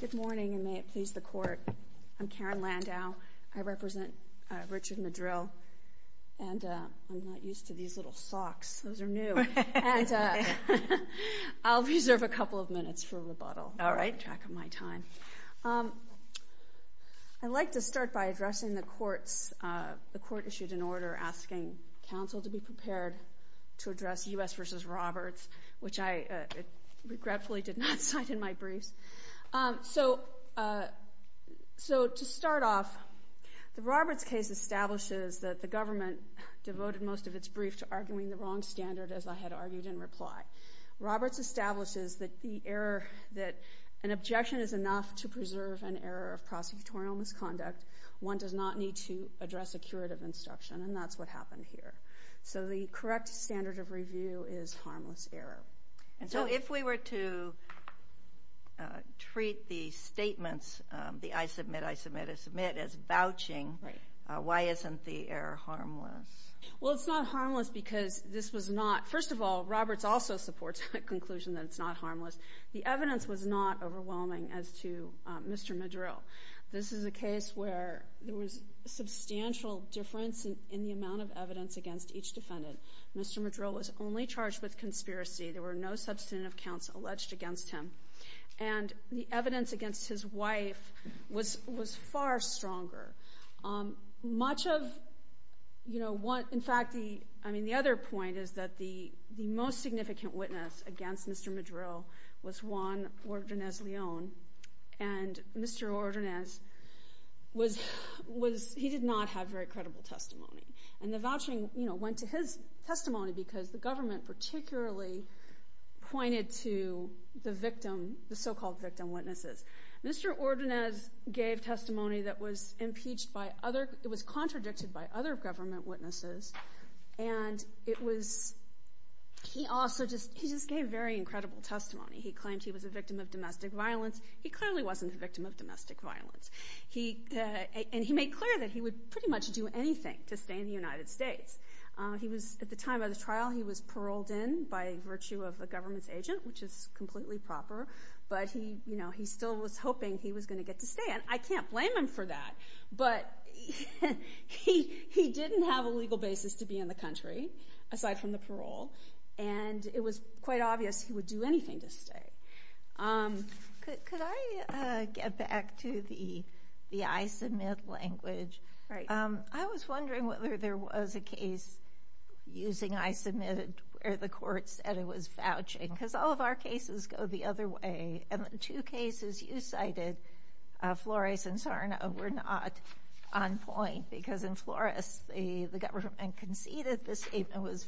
Good morning and may it please the court. I'm Karen Landau. I represent Richard Madril and I'm not used to these little socks. Those are new. I'll reserve a couple of minutes for rebuttal. All right. Track of my time. I'd like to start by addressing the courts. The court issued an order asking counsel to be prepared to address U.S. v. Roberts, which I regretfully did not cite in my briefs. So to start off, the Roberts case establishes that the government devoted most of its brief to arguing the wrong standard as I had argued in reply. Roberts establishes that an objection is enough to preserve an error of prosecutorial misconduct. One does not need to address a curative instruction and that's what happened here. So the correct standard of review is harmless error. And so if we were to treat the statements, the I submit, I submit, I submit, as vouching, why isn't the error harmless? Well, it's not harmless because this was not, first of all, Roberts also supports the conclusion that it's not harmless. The evidence was not overwhelming as to Mr. Madril. This is a case where there was substantial difference in the amount of evidence against each defendant. Mr. Madril was only charged with conspiracy. There were no substantive counts alleged against him. And the evidence against his wife was far stronger. In fact, the other point is that the most significant witness against Mr. Madril was Juan Ordonez-Leon. And Mr. Ordonez, he did not have very credible testimony. And the vouching went to his testimony because the government particularly pointed to the victim, the so-called victim witnesses. Mr. Ordonez gave testimony that was impeached by other, it was contradicted by other government witnesses. And it was, he also just, he just gave very incredible testimony. He claimed he was a victim of domestic violence. He clearly wasn't a victim of domestic violence. He, and he made clear that he would pretty much do anything to stay in the United States. He was, at the time of the trial, he was paroled in by virtue of a government's agent, which is completely proper. But he, you know, he still was hoping he was going to get to stay. And I can't blame him for that. But he, he didn't have a legal basis to be in the country, aside from the parole. And it was quite obvious he would do anything to stay. Could, could I get back to the, the I-submit language? Right. I was wondering whether there was a case using I-submit where the court said it was vouching. Because all of our cases go the other way. And the two cases you cited, Flores and Sarno, were not on point. Because in Flores, the, the government conceded the statement was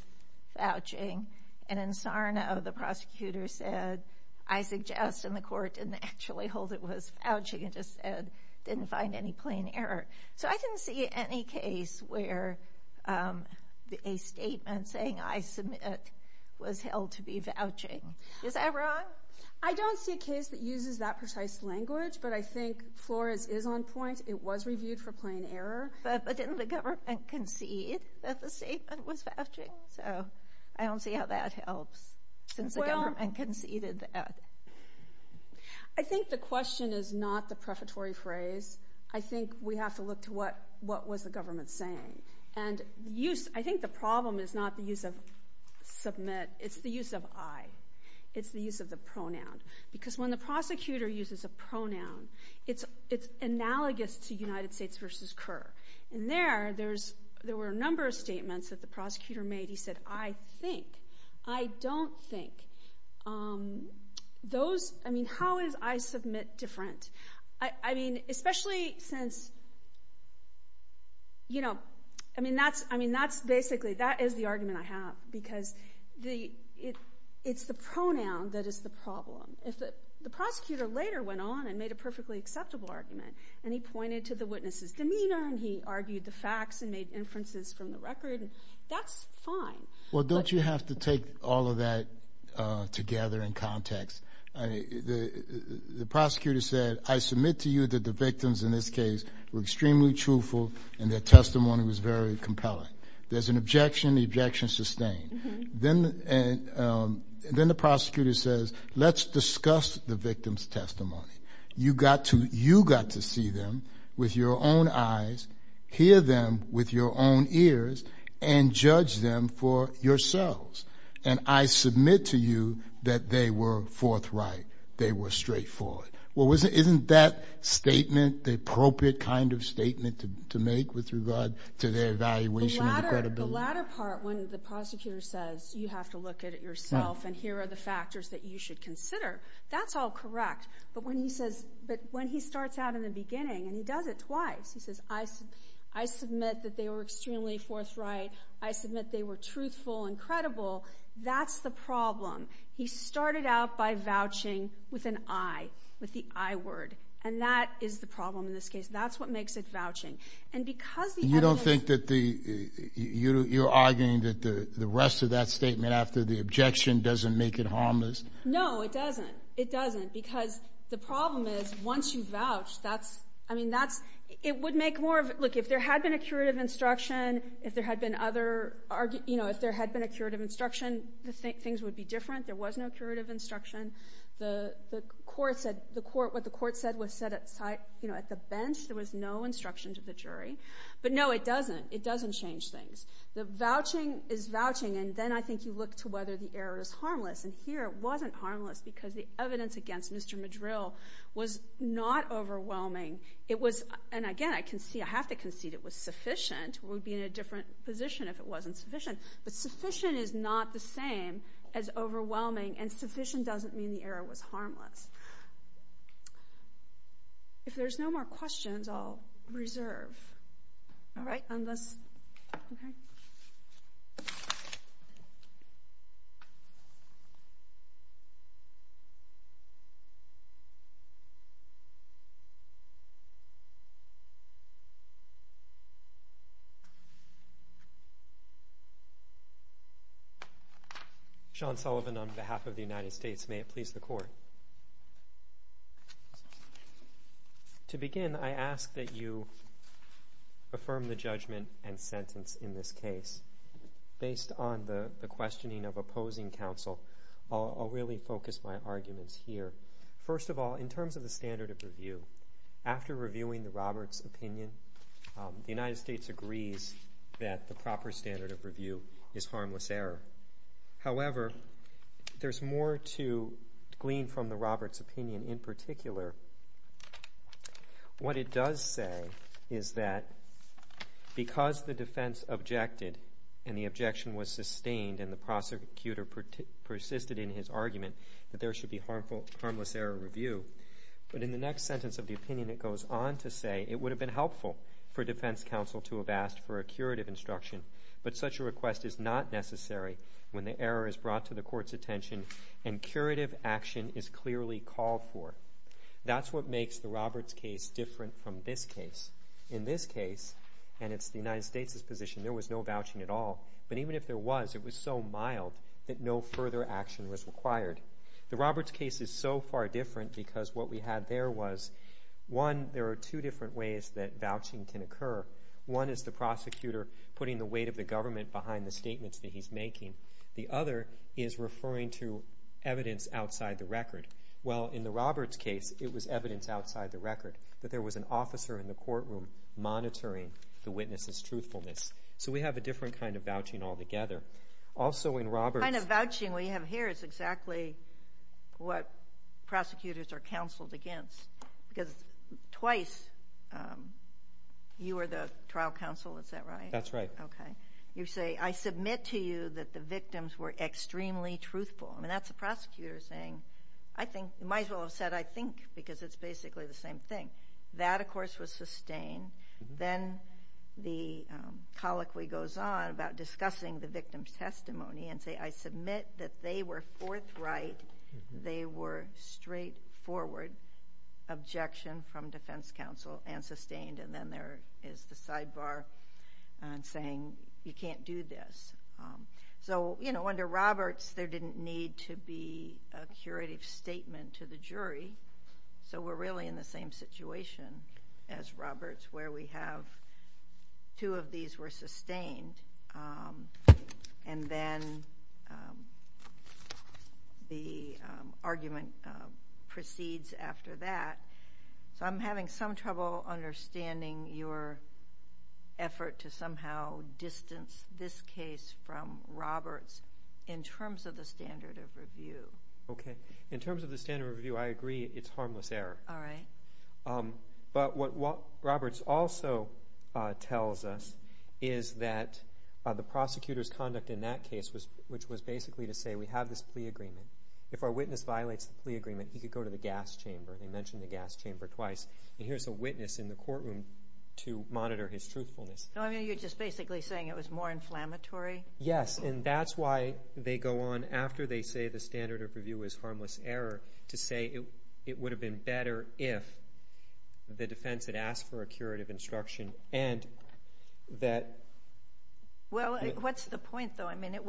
vouching. And in Sarno, the prosecutor said, I suggest, and the court didn't actually hold it was vouching. It just said, didn't find any plain error. So I didn't see any case where a statement saying I-submit was held to be vouching. Is that wrong? Well, I don't see a case that uses that precise language. But I think Flores is on point. It was reviewed for plain error. But, but didn't the government concede that the statement was vouching? So, I don't see how that helps. Well. Since the government conceded that. I think the question is not the prefatory phrase. I think we have to look to what, what was the government saying. And use, I think the problem is not the use of submit. It's the use of I. It's the use of the pronoun. Because when the prosecutor uses a pronoun, it's, it's analogous to United States versus Kerr. And there, there's, there were a number of statements that the prosecutor made. He said, I think. I don't think. Those, I mean, how is I-submit different? I, I mean, especially since, you know, I mean, that's, I mean, that's basically, that is the argument I have. Because the, it, it's the pronoun that is the problem. If the, the prosecutor later went on and made a perfectly acceptable argument. And he pointed to the witness's demeanor. And he argued the facts and made inferences from the record. And that's fine. Well, don't you have to take all of that together in context? I mean, the, the prosecutor said, I submit to you that the victims in this case were extremely truthful. And their testimony was very compelling. There's an objection. The objection is sustained. Then, then the prosecutor says, let's discuss the victim's testimony. You got to, you got to see them with your own eyes, hear them with your own ears, and judge them for yourselves. And I submit to you that they were forthright. They were straightforward. Well, wasn't, isn't that statement the appropriate kind of statement to, to make with regard to their evaluation of the credibility? The latter, the latter part when the prosecutor says, you have to look at it yourself and here are the factors that you should consider. That's all correct. But when he says, but when he starts out in the beginning, and he does it twice, he says, I, I submit that they were extremely forthright. I submit they were truthful and credible. That's the problem. He started out by vouching with an I, with the I word. And that is the problem in this case. That's what makes it vouching. And because the evidence And you don't think that the, you're arguing that the rest of that statement after the objection doesn't make it harmless? No, it doesn't. It doesn't. Because the problem is, once you vouch, that's, I mean, that's, it would make more of, look, if there had been a curative instruction, if there had been other, you know, if there had been a curative instruction, the things would be different. There was no curative instruction. The, the court said, the court, what the court said was said at site, you know, at the bench. There was no instruction to the jury. But no, it doesn't. It doesn't change things. The vouching is vouching. And then I think you look to whether the error is harmless. And here it wasn't harmless because the evidence against Mr. Madril was not overwhelming. It was, and again, I concede, I have to concede it was sufficient. We would be in a different position if it wasn't sufficient. But sufficient is not the same as overwhelming. And sufficient doesn't mean the error was harmless. If there's no more questions, I'll reserve. All right, unless, okay. Sean Sullivan on behalf of the United States. May it please the court. To begin, I ask that you affirm the judgment and sentence in this case. Based on the, the questioning of opposing counsel, I'll, I'll really focus my arguments here. First of all, in terms of the standard of review, after reviewing the Roberts opinion, the United States agrees that the proper standard of review is harmless error. However, there's more to glean from the Roberts opinion in particular. What it does say is that because the defense objected and the objection was sustained and the prosecutor persisted in his argument that there should be harmful, harmless error review. But in the next sentence of the opinion, it goes on to say, it would have been helpful for defense counsel to have asked for a curative instruction, but such a request is not necessary when the error is brought to the court's attention and curative action is clearly called for. That's what makes the Roberts case different from this case. In this case, and it's the United States' position, there was no vouching at all. But even if there was, it was so mild that no further action was required. The Roberts case is so far different because what we had there was, one, there are two different ways that vouching can occur. One is the prosecutor putting the weight of the government behind the statements that he's making. The other is referring to evidence outside the record. Well, in the Roberts case, it was evidence outside the record, but there was an officer in the courtroom monitoring the witness's truthfulness. So we have a different kind of vouching altogether. Also, in Roberts... The kind of vouching we have here is exactly what prosecutors are counseled against because twice you were the trial counsel, is that right? That's right. You say, I submit to you that the victims were extremely truthful. That's the prosecutor saying, you might as well have said, I think, because it's basically the same thing. That, of course, was sustained. Then the colloquy goes on about discussing the victim's testimony and say, I submit that they were forthright, they were straightforward, objection from defense counsel and sustained, and then there is the sidebar saying, you can't do this. Under Roberts, there didn't need to be a curative statement to the jury, so we're really in the same situation as Roberts where we have two of these were sustained, and then the argument proceeds after that. So I'm having some trouble understanding your effort to somehow distance this case from Roberts in terms of the standard of review. In terms of the standard of review, I agree it's harmless error. But what Roberts also tells us is that the prosecutor's conduct in that case which was basically to say, we have this plea agreement. If our witness violates the plea agreement, he could go to the gas chamber. He mentioned the gas chamber twice. Here's a witness in the courtroom to monitor his truthfulness. You're just basically saying it was more inflammatory? Yes, and that's why they go on after they say the standard of review is harmless error to say it would have been better if the defense had asked for a standard of review. It would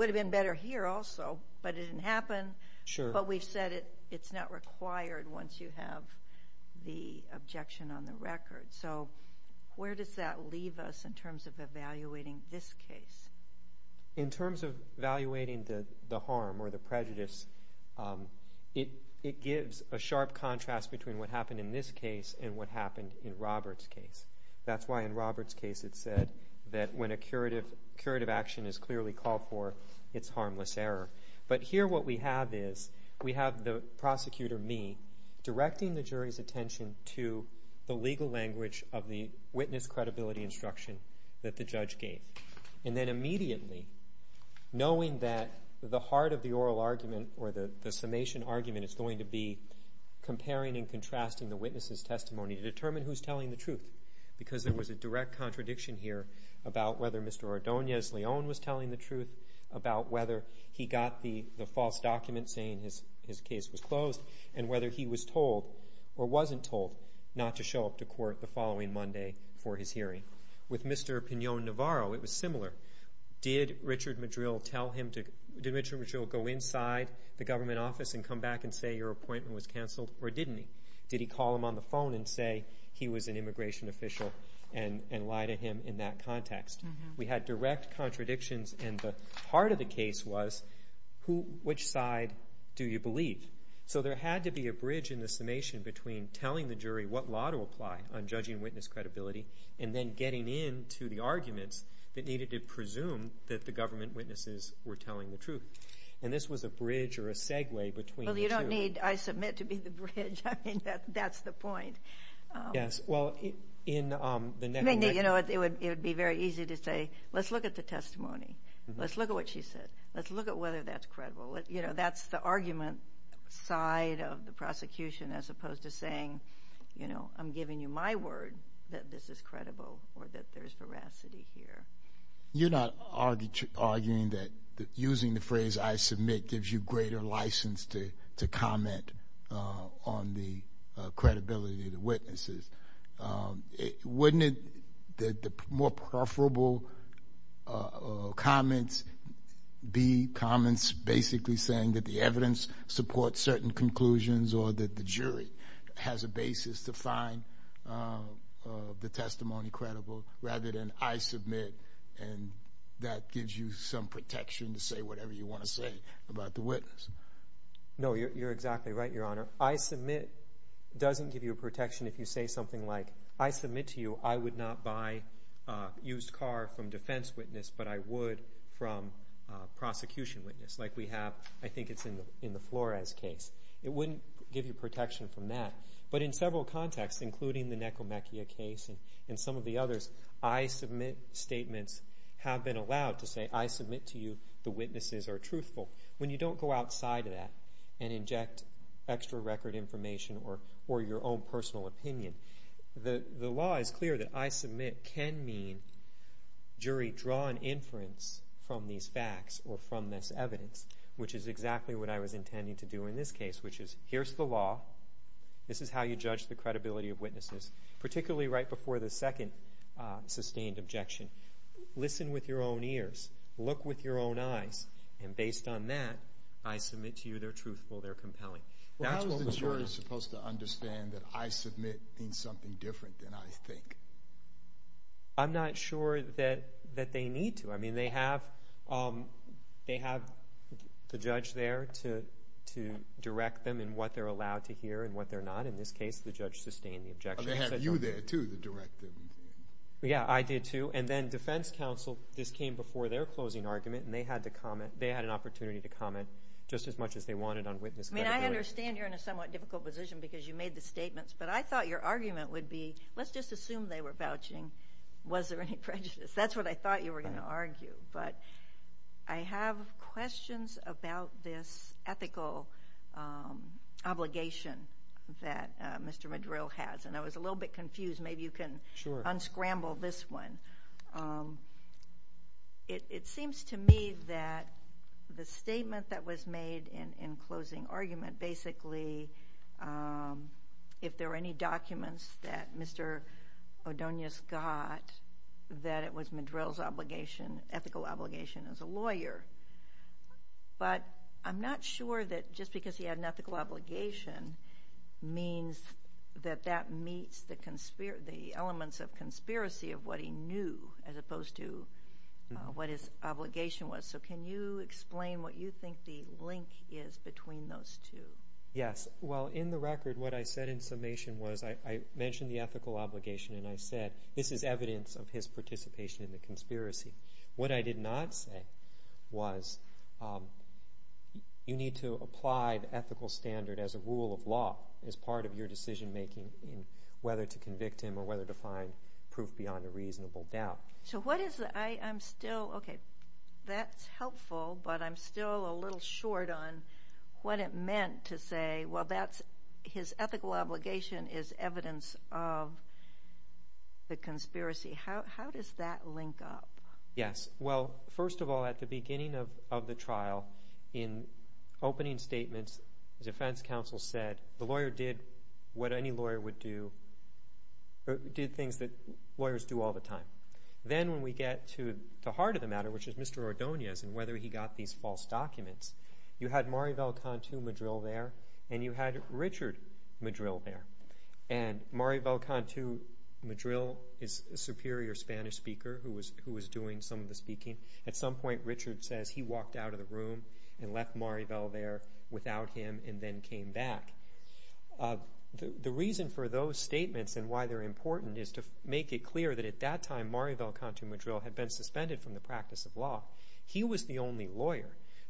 have been better here also, but it didn't happen. But we've said it's not required once you have the objection on the record. So where does that leave us in terms of evaluating this case? In terms of evaluating the harm or the prejudice, it gives a sharp contrast between what happened in this case and what happened in Roberts' case. That's why in Roberts' case it said that when a curative action is clearly called for, it's harmless error. But here what we have is we have the prosecutor, me, directing the jury's attention to the legal language of the witness credibility instruction that the judge gave. And then immediately, knowing that the heart of the oral argument or the summation argument is going to be comparing and contrasting the witness's testimony to determine who's telling the truth. Because there was a direct contradiction here about whether Mr. Ordonez-Leon was telling the truth, about whether he got the false document saying his case was closed, and whether he was told, or wasn't told, not to show up to court the following Monday for his hearing. With Mr. Pinon-Navarro, it was similar. Did Richard Madrill go inside the government office and come back and say, your appointment was canceled, or didn't he? Did he call him on the phone and say he was an immigration official and lie to him in that context? We had direct contradictions, and the heart of the case was which side do you believe? So there had to be a bridge in the summation between telling the jury what law to apply on judging witness credibility, and then getting into the arguments that needed to presume that the government witnesses were telling the truth. And this was a bridge or a segue between the two. Well, you don't need, I submit, to be the bridge. I mean, that's the point. It would be very easy to say, let's look at the testimony. Let's look at what she said. Let's look at whether that's the argument side of the prosecution as opposed to saying, you know, I'm giving you my word that this is credible or that there's veracity here. You're not arguing that using the phrase, I submit, gives you greater license to comment on the credibility of the witnesses. Wouldn't the more preferable comments be comments basically saying that the evidence supports certain conclusions or that the jury has a basis to find the testimony credible rather than I submit and that gives you some protection to say whatever you want to say about the witness? No, you're exactly right, Your Honor. I submit doesn't give you a protection if you say something like, I submit to you, I would not buy a used car from a defense witness, but I would from a prosecution witness, like we have, I think it's in the Flores case. It wouldn't give you protection from that. But in several contexts, including the Necromachia case and some of the others, I submit statements have been allowed to say, I submit to you, the witnesses are truthful. When you don't go outside of that and inject extra record information or your own personal opinion, the law is clear that I submit can mean jury, draw an inference from these facts or from this evidence, which is exactly what I was intending to do in this case, which is here's the law, this is how you judge the credibility of witnesses, particularly right before the second sustained objection. Listen with your own ears, look with your own eyes, and based on that, I submit to you they're truthful, they're compelling. That was the point. Well, isn't the jury supposed to understand that I submit means something different than I think? I'm not sure that they need to. I mean, they have the judge there to direct them in what they're allowed to hear and what they're not. In this case, the judge sustained the objection. Well, they have you there, too, to direct them. Yeah, I did, too, and then defense counsel, this came before their closing argument, and they had an opportunity to comment just as much as they wanted on witness credibility. I mean, I understand you're in a somewhat difficult position because you made the statements, but I thought your argument would be, let's just assume they were vouching, was there any prejudice? That's what I thought you were going to argue, but I have questions about this ethical obligation that Mr. Madrill has, and I was a little bit confused. Maybe you can unscramble this one. It seems to me that the statement that was made in closing argument, basically, if there were any documents that Mr. Odonius got, that it was Madrill's obligation, ethical obligation, as a lawyer, but I'm not sure that just because he had an ethical obligation means that that meets the elements of conspiracy of what he knew, as opposed to what his obligation was. So can you explain what you think the link is between those two? Yes. Well, in the record, what I said in summation was I mentioned the you need to apply the ethical standard as a rule of law as part of your decision making, whether to convict him or whether to find proof beyond a reasonable doubt. So what is the, I'm still, okay, that's helpful, but I'm still a little short on what it meant to say, well, his ethical obligation is evidence of the conspiracy. How does that link up? Yes. Well, first of all, at the beginning of the trial, in opening statements, the defense counsel said the lawyer did what any lawyer would do, did things that lawyers do all the time. Then when we get to the heart of the matter, which is Mr. Odonius and whether he got these false documents, you had Maribel Cantu Madril is a superior Spanish speaker who was doing some of the speaking. At some point, Richard says he walked out of the room and left Maribel there without him and then came back. The reason for those statements and why they're important is to make it clear that at that time Maribel Cantu Madril had been suspended from the practice of law. He was the only lawyer. So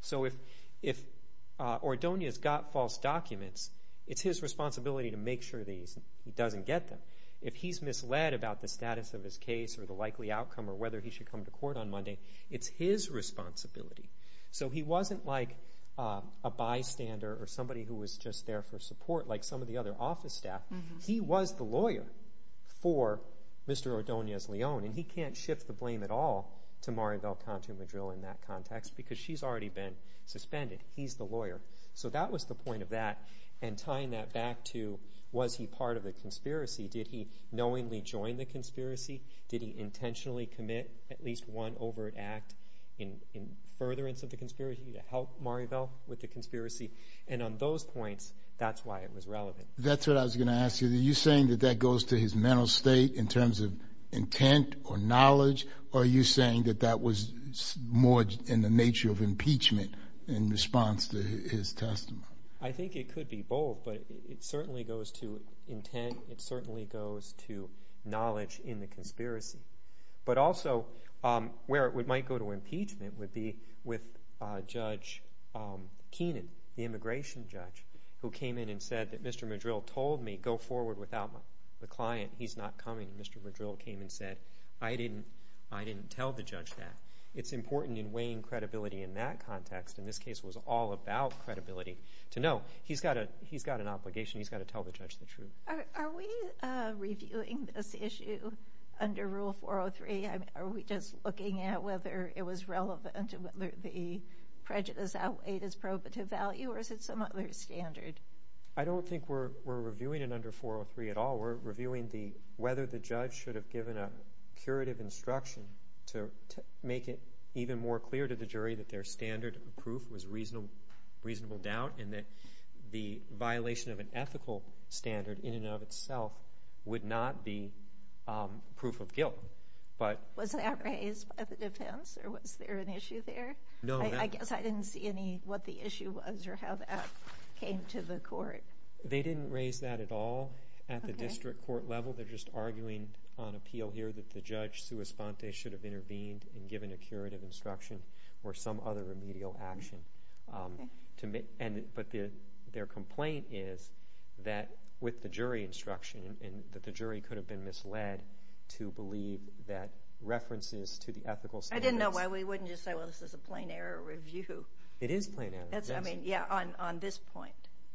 if he's misled about the status of his case or the likely outcome or whether he should come to court on Monday, it's his responsibility. So he wasn't like a bystander or somebody who was just there for support like some of the other office staff. He was the lawyer for Mr. Odonius Leone and he can't shift the blame at all to Maribel Cantu Madril in that context because she's already been suspended. He's the lawyer. So that was the point of that and tying that back to was he part of a conspiracy? Did he knowingly join the conspiracy? Did he intentionally commit at least one overt act in furtherance of the conspiracy to help Maribel with the conspiracy? And on those points, that's why it was relevant. That's what I was going to ask you. Are you saying that that goes to his mental state in terms of intent or knowledge or are you saying that that was more in the nature of impeachment in response to his testimony? I think it could be both, but it certainly goes to intent. It certainly goes to knowledge in the conspiracy. But also where it might go to impeachment would be with Judge Keenan, the immigration judge, who came in and said that Mr. Madril told me go forward without the client. He's not coming. Mr. Madril came and said, I didn't tell the judge that. It's important in weighing credibility in that context, and this case was all about credibility, to know he's got an obligation. He's got to tell the judge the truth. Are we reviewing this issue under Rule 403? Are we just looking at whether it was relevant and whether the prejudice outweighed its probative value or is it some other standard? I don't think we're reviewing it under 403 at all. We're reviewing whether the judge should have given a curative instruction to make it even more clear to the jury that their standard of proof was reasonable doubt and that the violation of an ethical standard in and of itself would not be proof of guilt. Was that raised by the defense or was there an issue there? I guess I didn't see what the issue was or how that came to the court. They didn't raise that at all at the district court level. They're just arguing on appeal here that the judge, sua sponte, should have intervened and given a curative instruction or some other remedial action. But their complaint is that with the jury instruction and that the jury could have been misled to believe that references to the ethical standards. I didn't know why we wouldn't just say, well, this is a plain error review. It is plain error. On this point.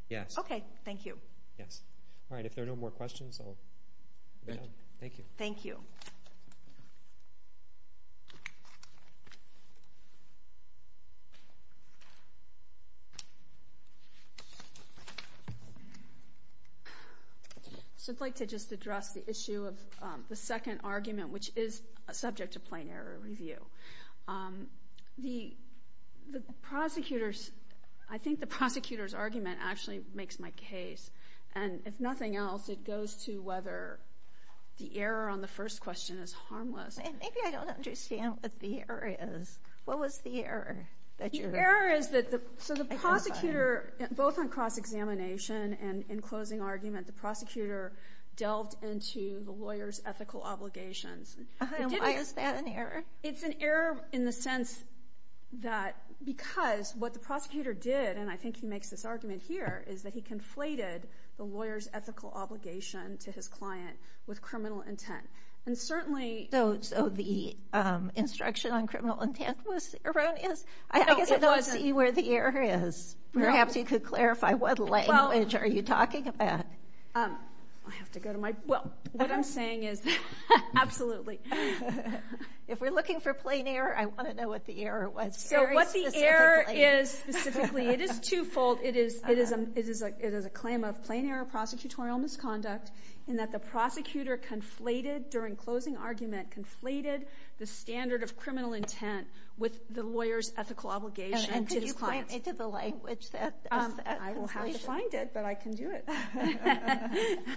Yes. Okay. Thank you. Thank you. I'd like to just address the issue of the second argument, which is subject to plain error review. I think the prosecutor's argument actually makes my case. If nothing else, it goes to whether the error on the first question is harmless. Maybe I don't understand what the error is. What was the error? The error is that the prosecutor, both on cross-examination and in closing argument, the prosecutor delved into the lawyer's ethical obligations. Is that an error? It's an error in the sense that because what the prosecutor did, and I think he makes this argument here, is that he conflated the lawyer's ethical obligation to his client with criminal intent. So the instruction on criminal intent was erroneous? I guess it wasn't. I don't see where the error is. Perhaps you could clarify what language are you talking about? What I'm saying is, absolutely. If we're looking for plain error, I want to know what the error was very specifically. The error is, specifically, it is two-fold. It is a claim of plain error prosecutorial misconduct in that the prosecutor conflated, during closing argument, conflated the standard of criminal intent with the lawyer's ethical obligation to his client. Could you point me to the language? I will have to find it, but I can do it.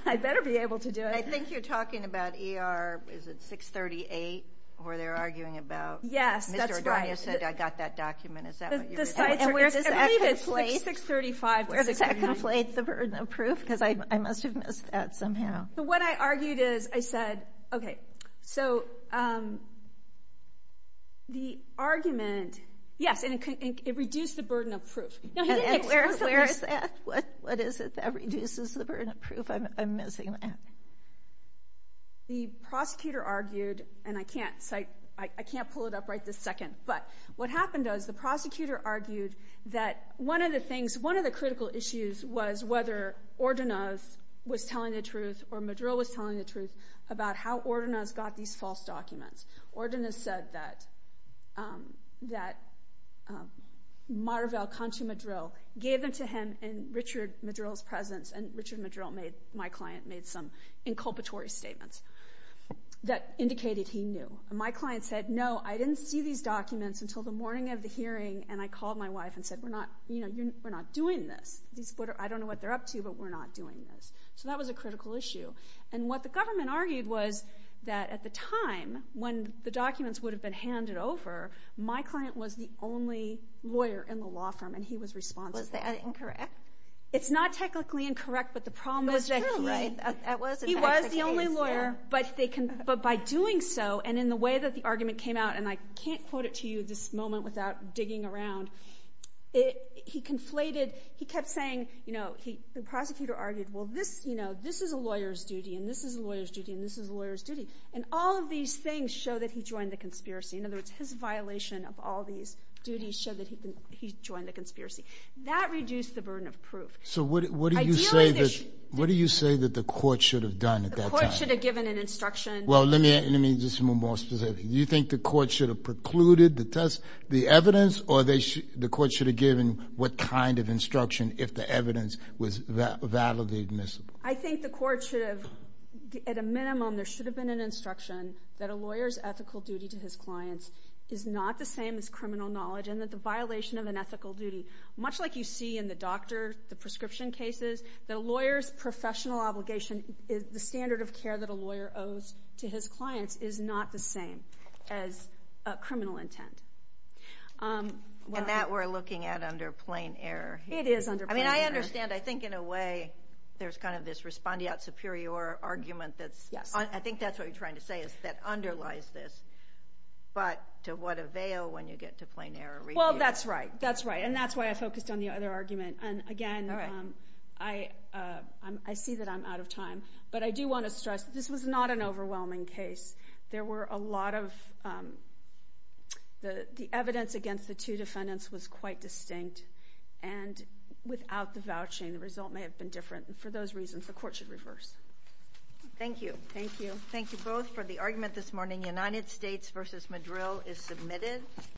I better be able to do it. I think you're talking about 638, where they're arguing about, Mr. Adonio said, I got that document. Is that what you're saying? I believe it's 635 to 639. Where does that conflate the burden of proof? Because I must have missed that somehow. What I argued is, I said, okay, so the argument, yes, and it reduced the burden of proof. What is it that reduces the burden of proof? I'm missing that. The prosecutor argued, and I can't pull it up right this second, but what happened was, the prosecutor argued that one of the critical issues was whether Ordonez was telling the truth or Madril was telling the truth about how Ordonez got these false documents. Ordonez said that Marvell Cantu-Madril gave them to him in Richard Madril's presence, and Richard Madril, my client, made some inculpatory statements that indicated he knew. My client said, no, I didn't see these documents until the morning of the hearing, and I called my wife and said, we're not doing this. I don't know what they're up to, but we're not doing this. So that was a critical issue. And what the government argued was that at the time when the documents would have been handed over, my client was the only lawyer in the law firm, and he was responsible. Was that incorrect? It's not technically incorrect, but the problem is that he was the only lawyer, but by doing so, and in the way that the argument came out, and I can't quote it to you in this moment without digging around, he conflated, he kept saying, the prosecutor argued, well this is a lawyer's duty, and this is a lawyer's duty, and this is a lawyer's duty, and all of these things show that he joined the conspiracy. In other words, his violation of all these duties showed that he joined the conspiracy. That reduced the burden of proof. So what do you say that the court should have done to test the evidence, or the court should have given what kind of instruction if the evidence was validly admissible? I think the court should have, at a minimum, there should have been an instruction that a lawyer's ethical duty to his clients is not the same as criminal knowledge, and that the violation of an ethical duty, much like you see in the doctor, the prescription cases, that a lawyer's professional obligation, the standard of care that a lawyer owes to his clients is not the same as criminal intent. And that we're looking at under plain error. It is under plain error. I mean, I understand, I think in a way, there's kind of this respondeat superior argument that's, I think that's what you're trying to say, is that underlies this, but to what avail when you get to plain error review? Well, that's right. And that's why I focused on the other argument. And again, I see that I'm out of time. But I do want to stress, this was not an overwhelming case. There were a lot of, the evidence against the two defendants was quite distinct. And without the vouching, the result may have been different. And for those reasons, the court should reverse. Thank you. Thank you. Thank you both for the argument this morning. United States v. Madril is submitted.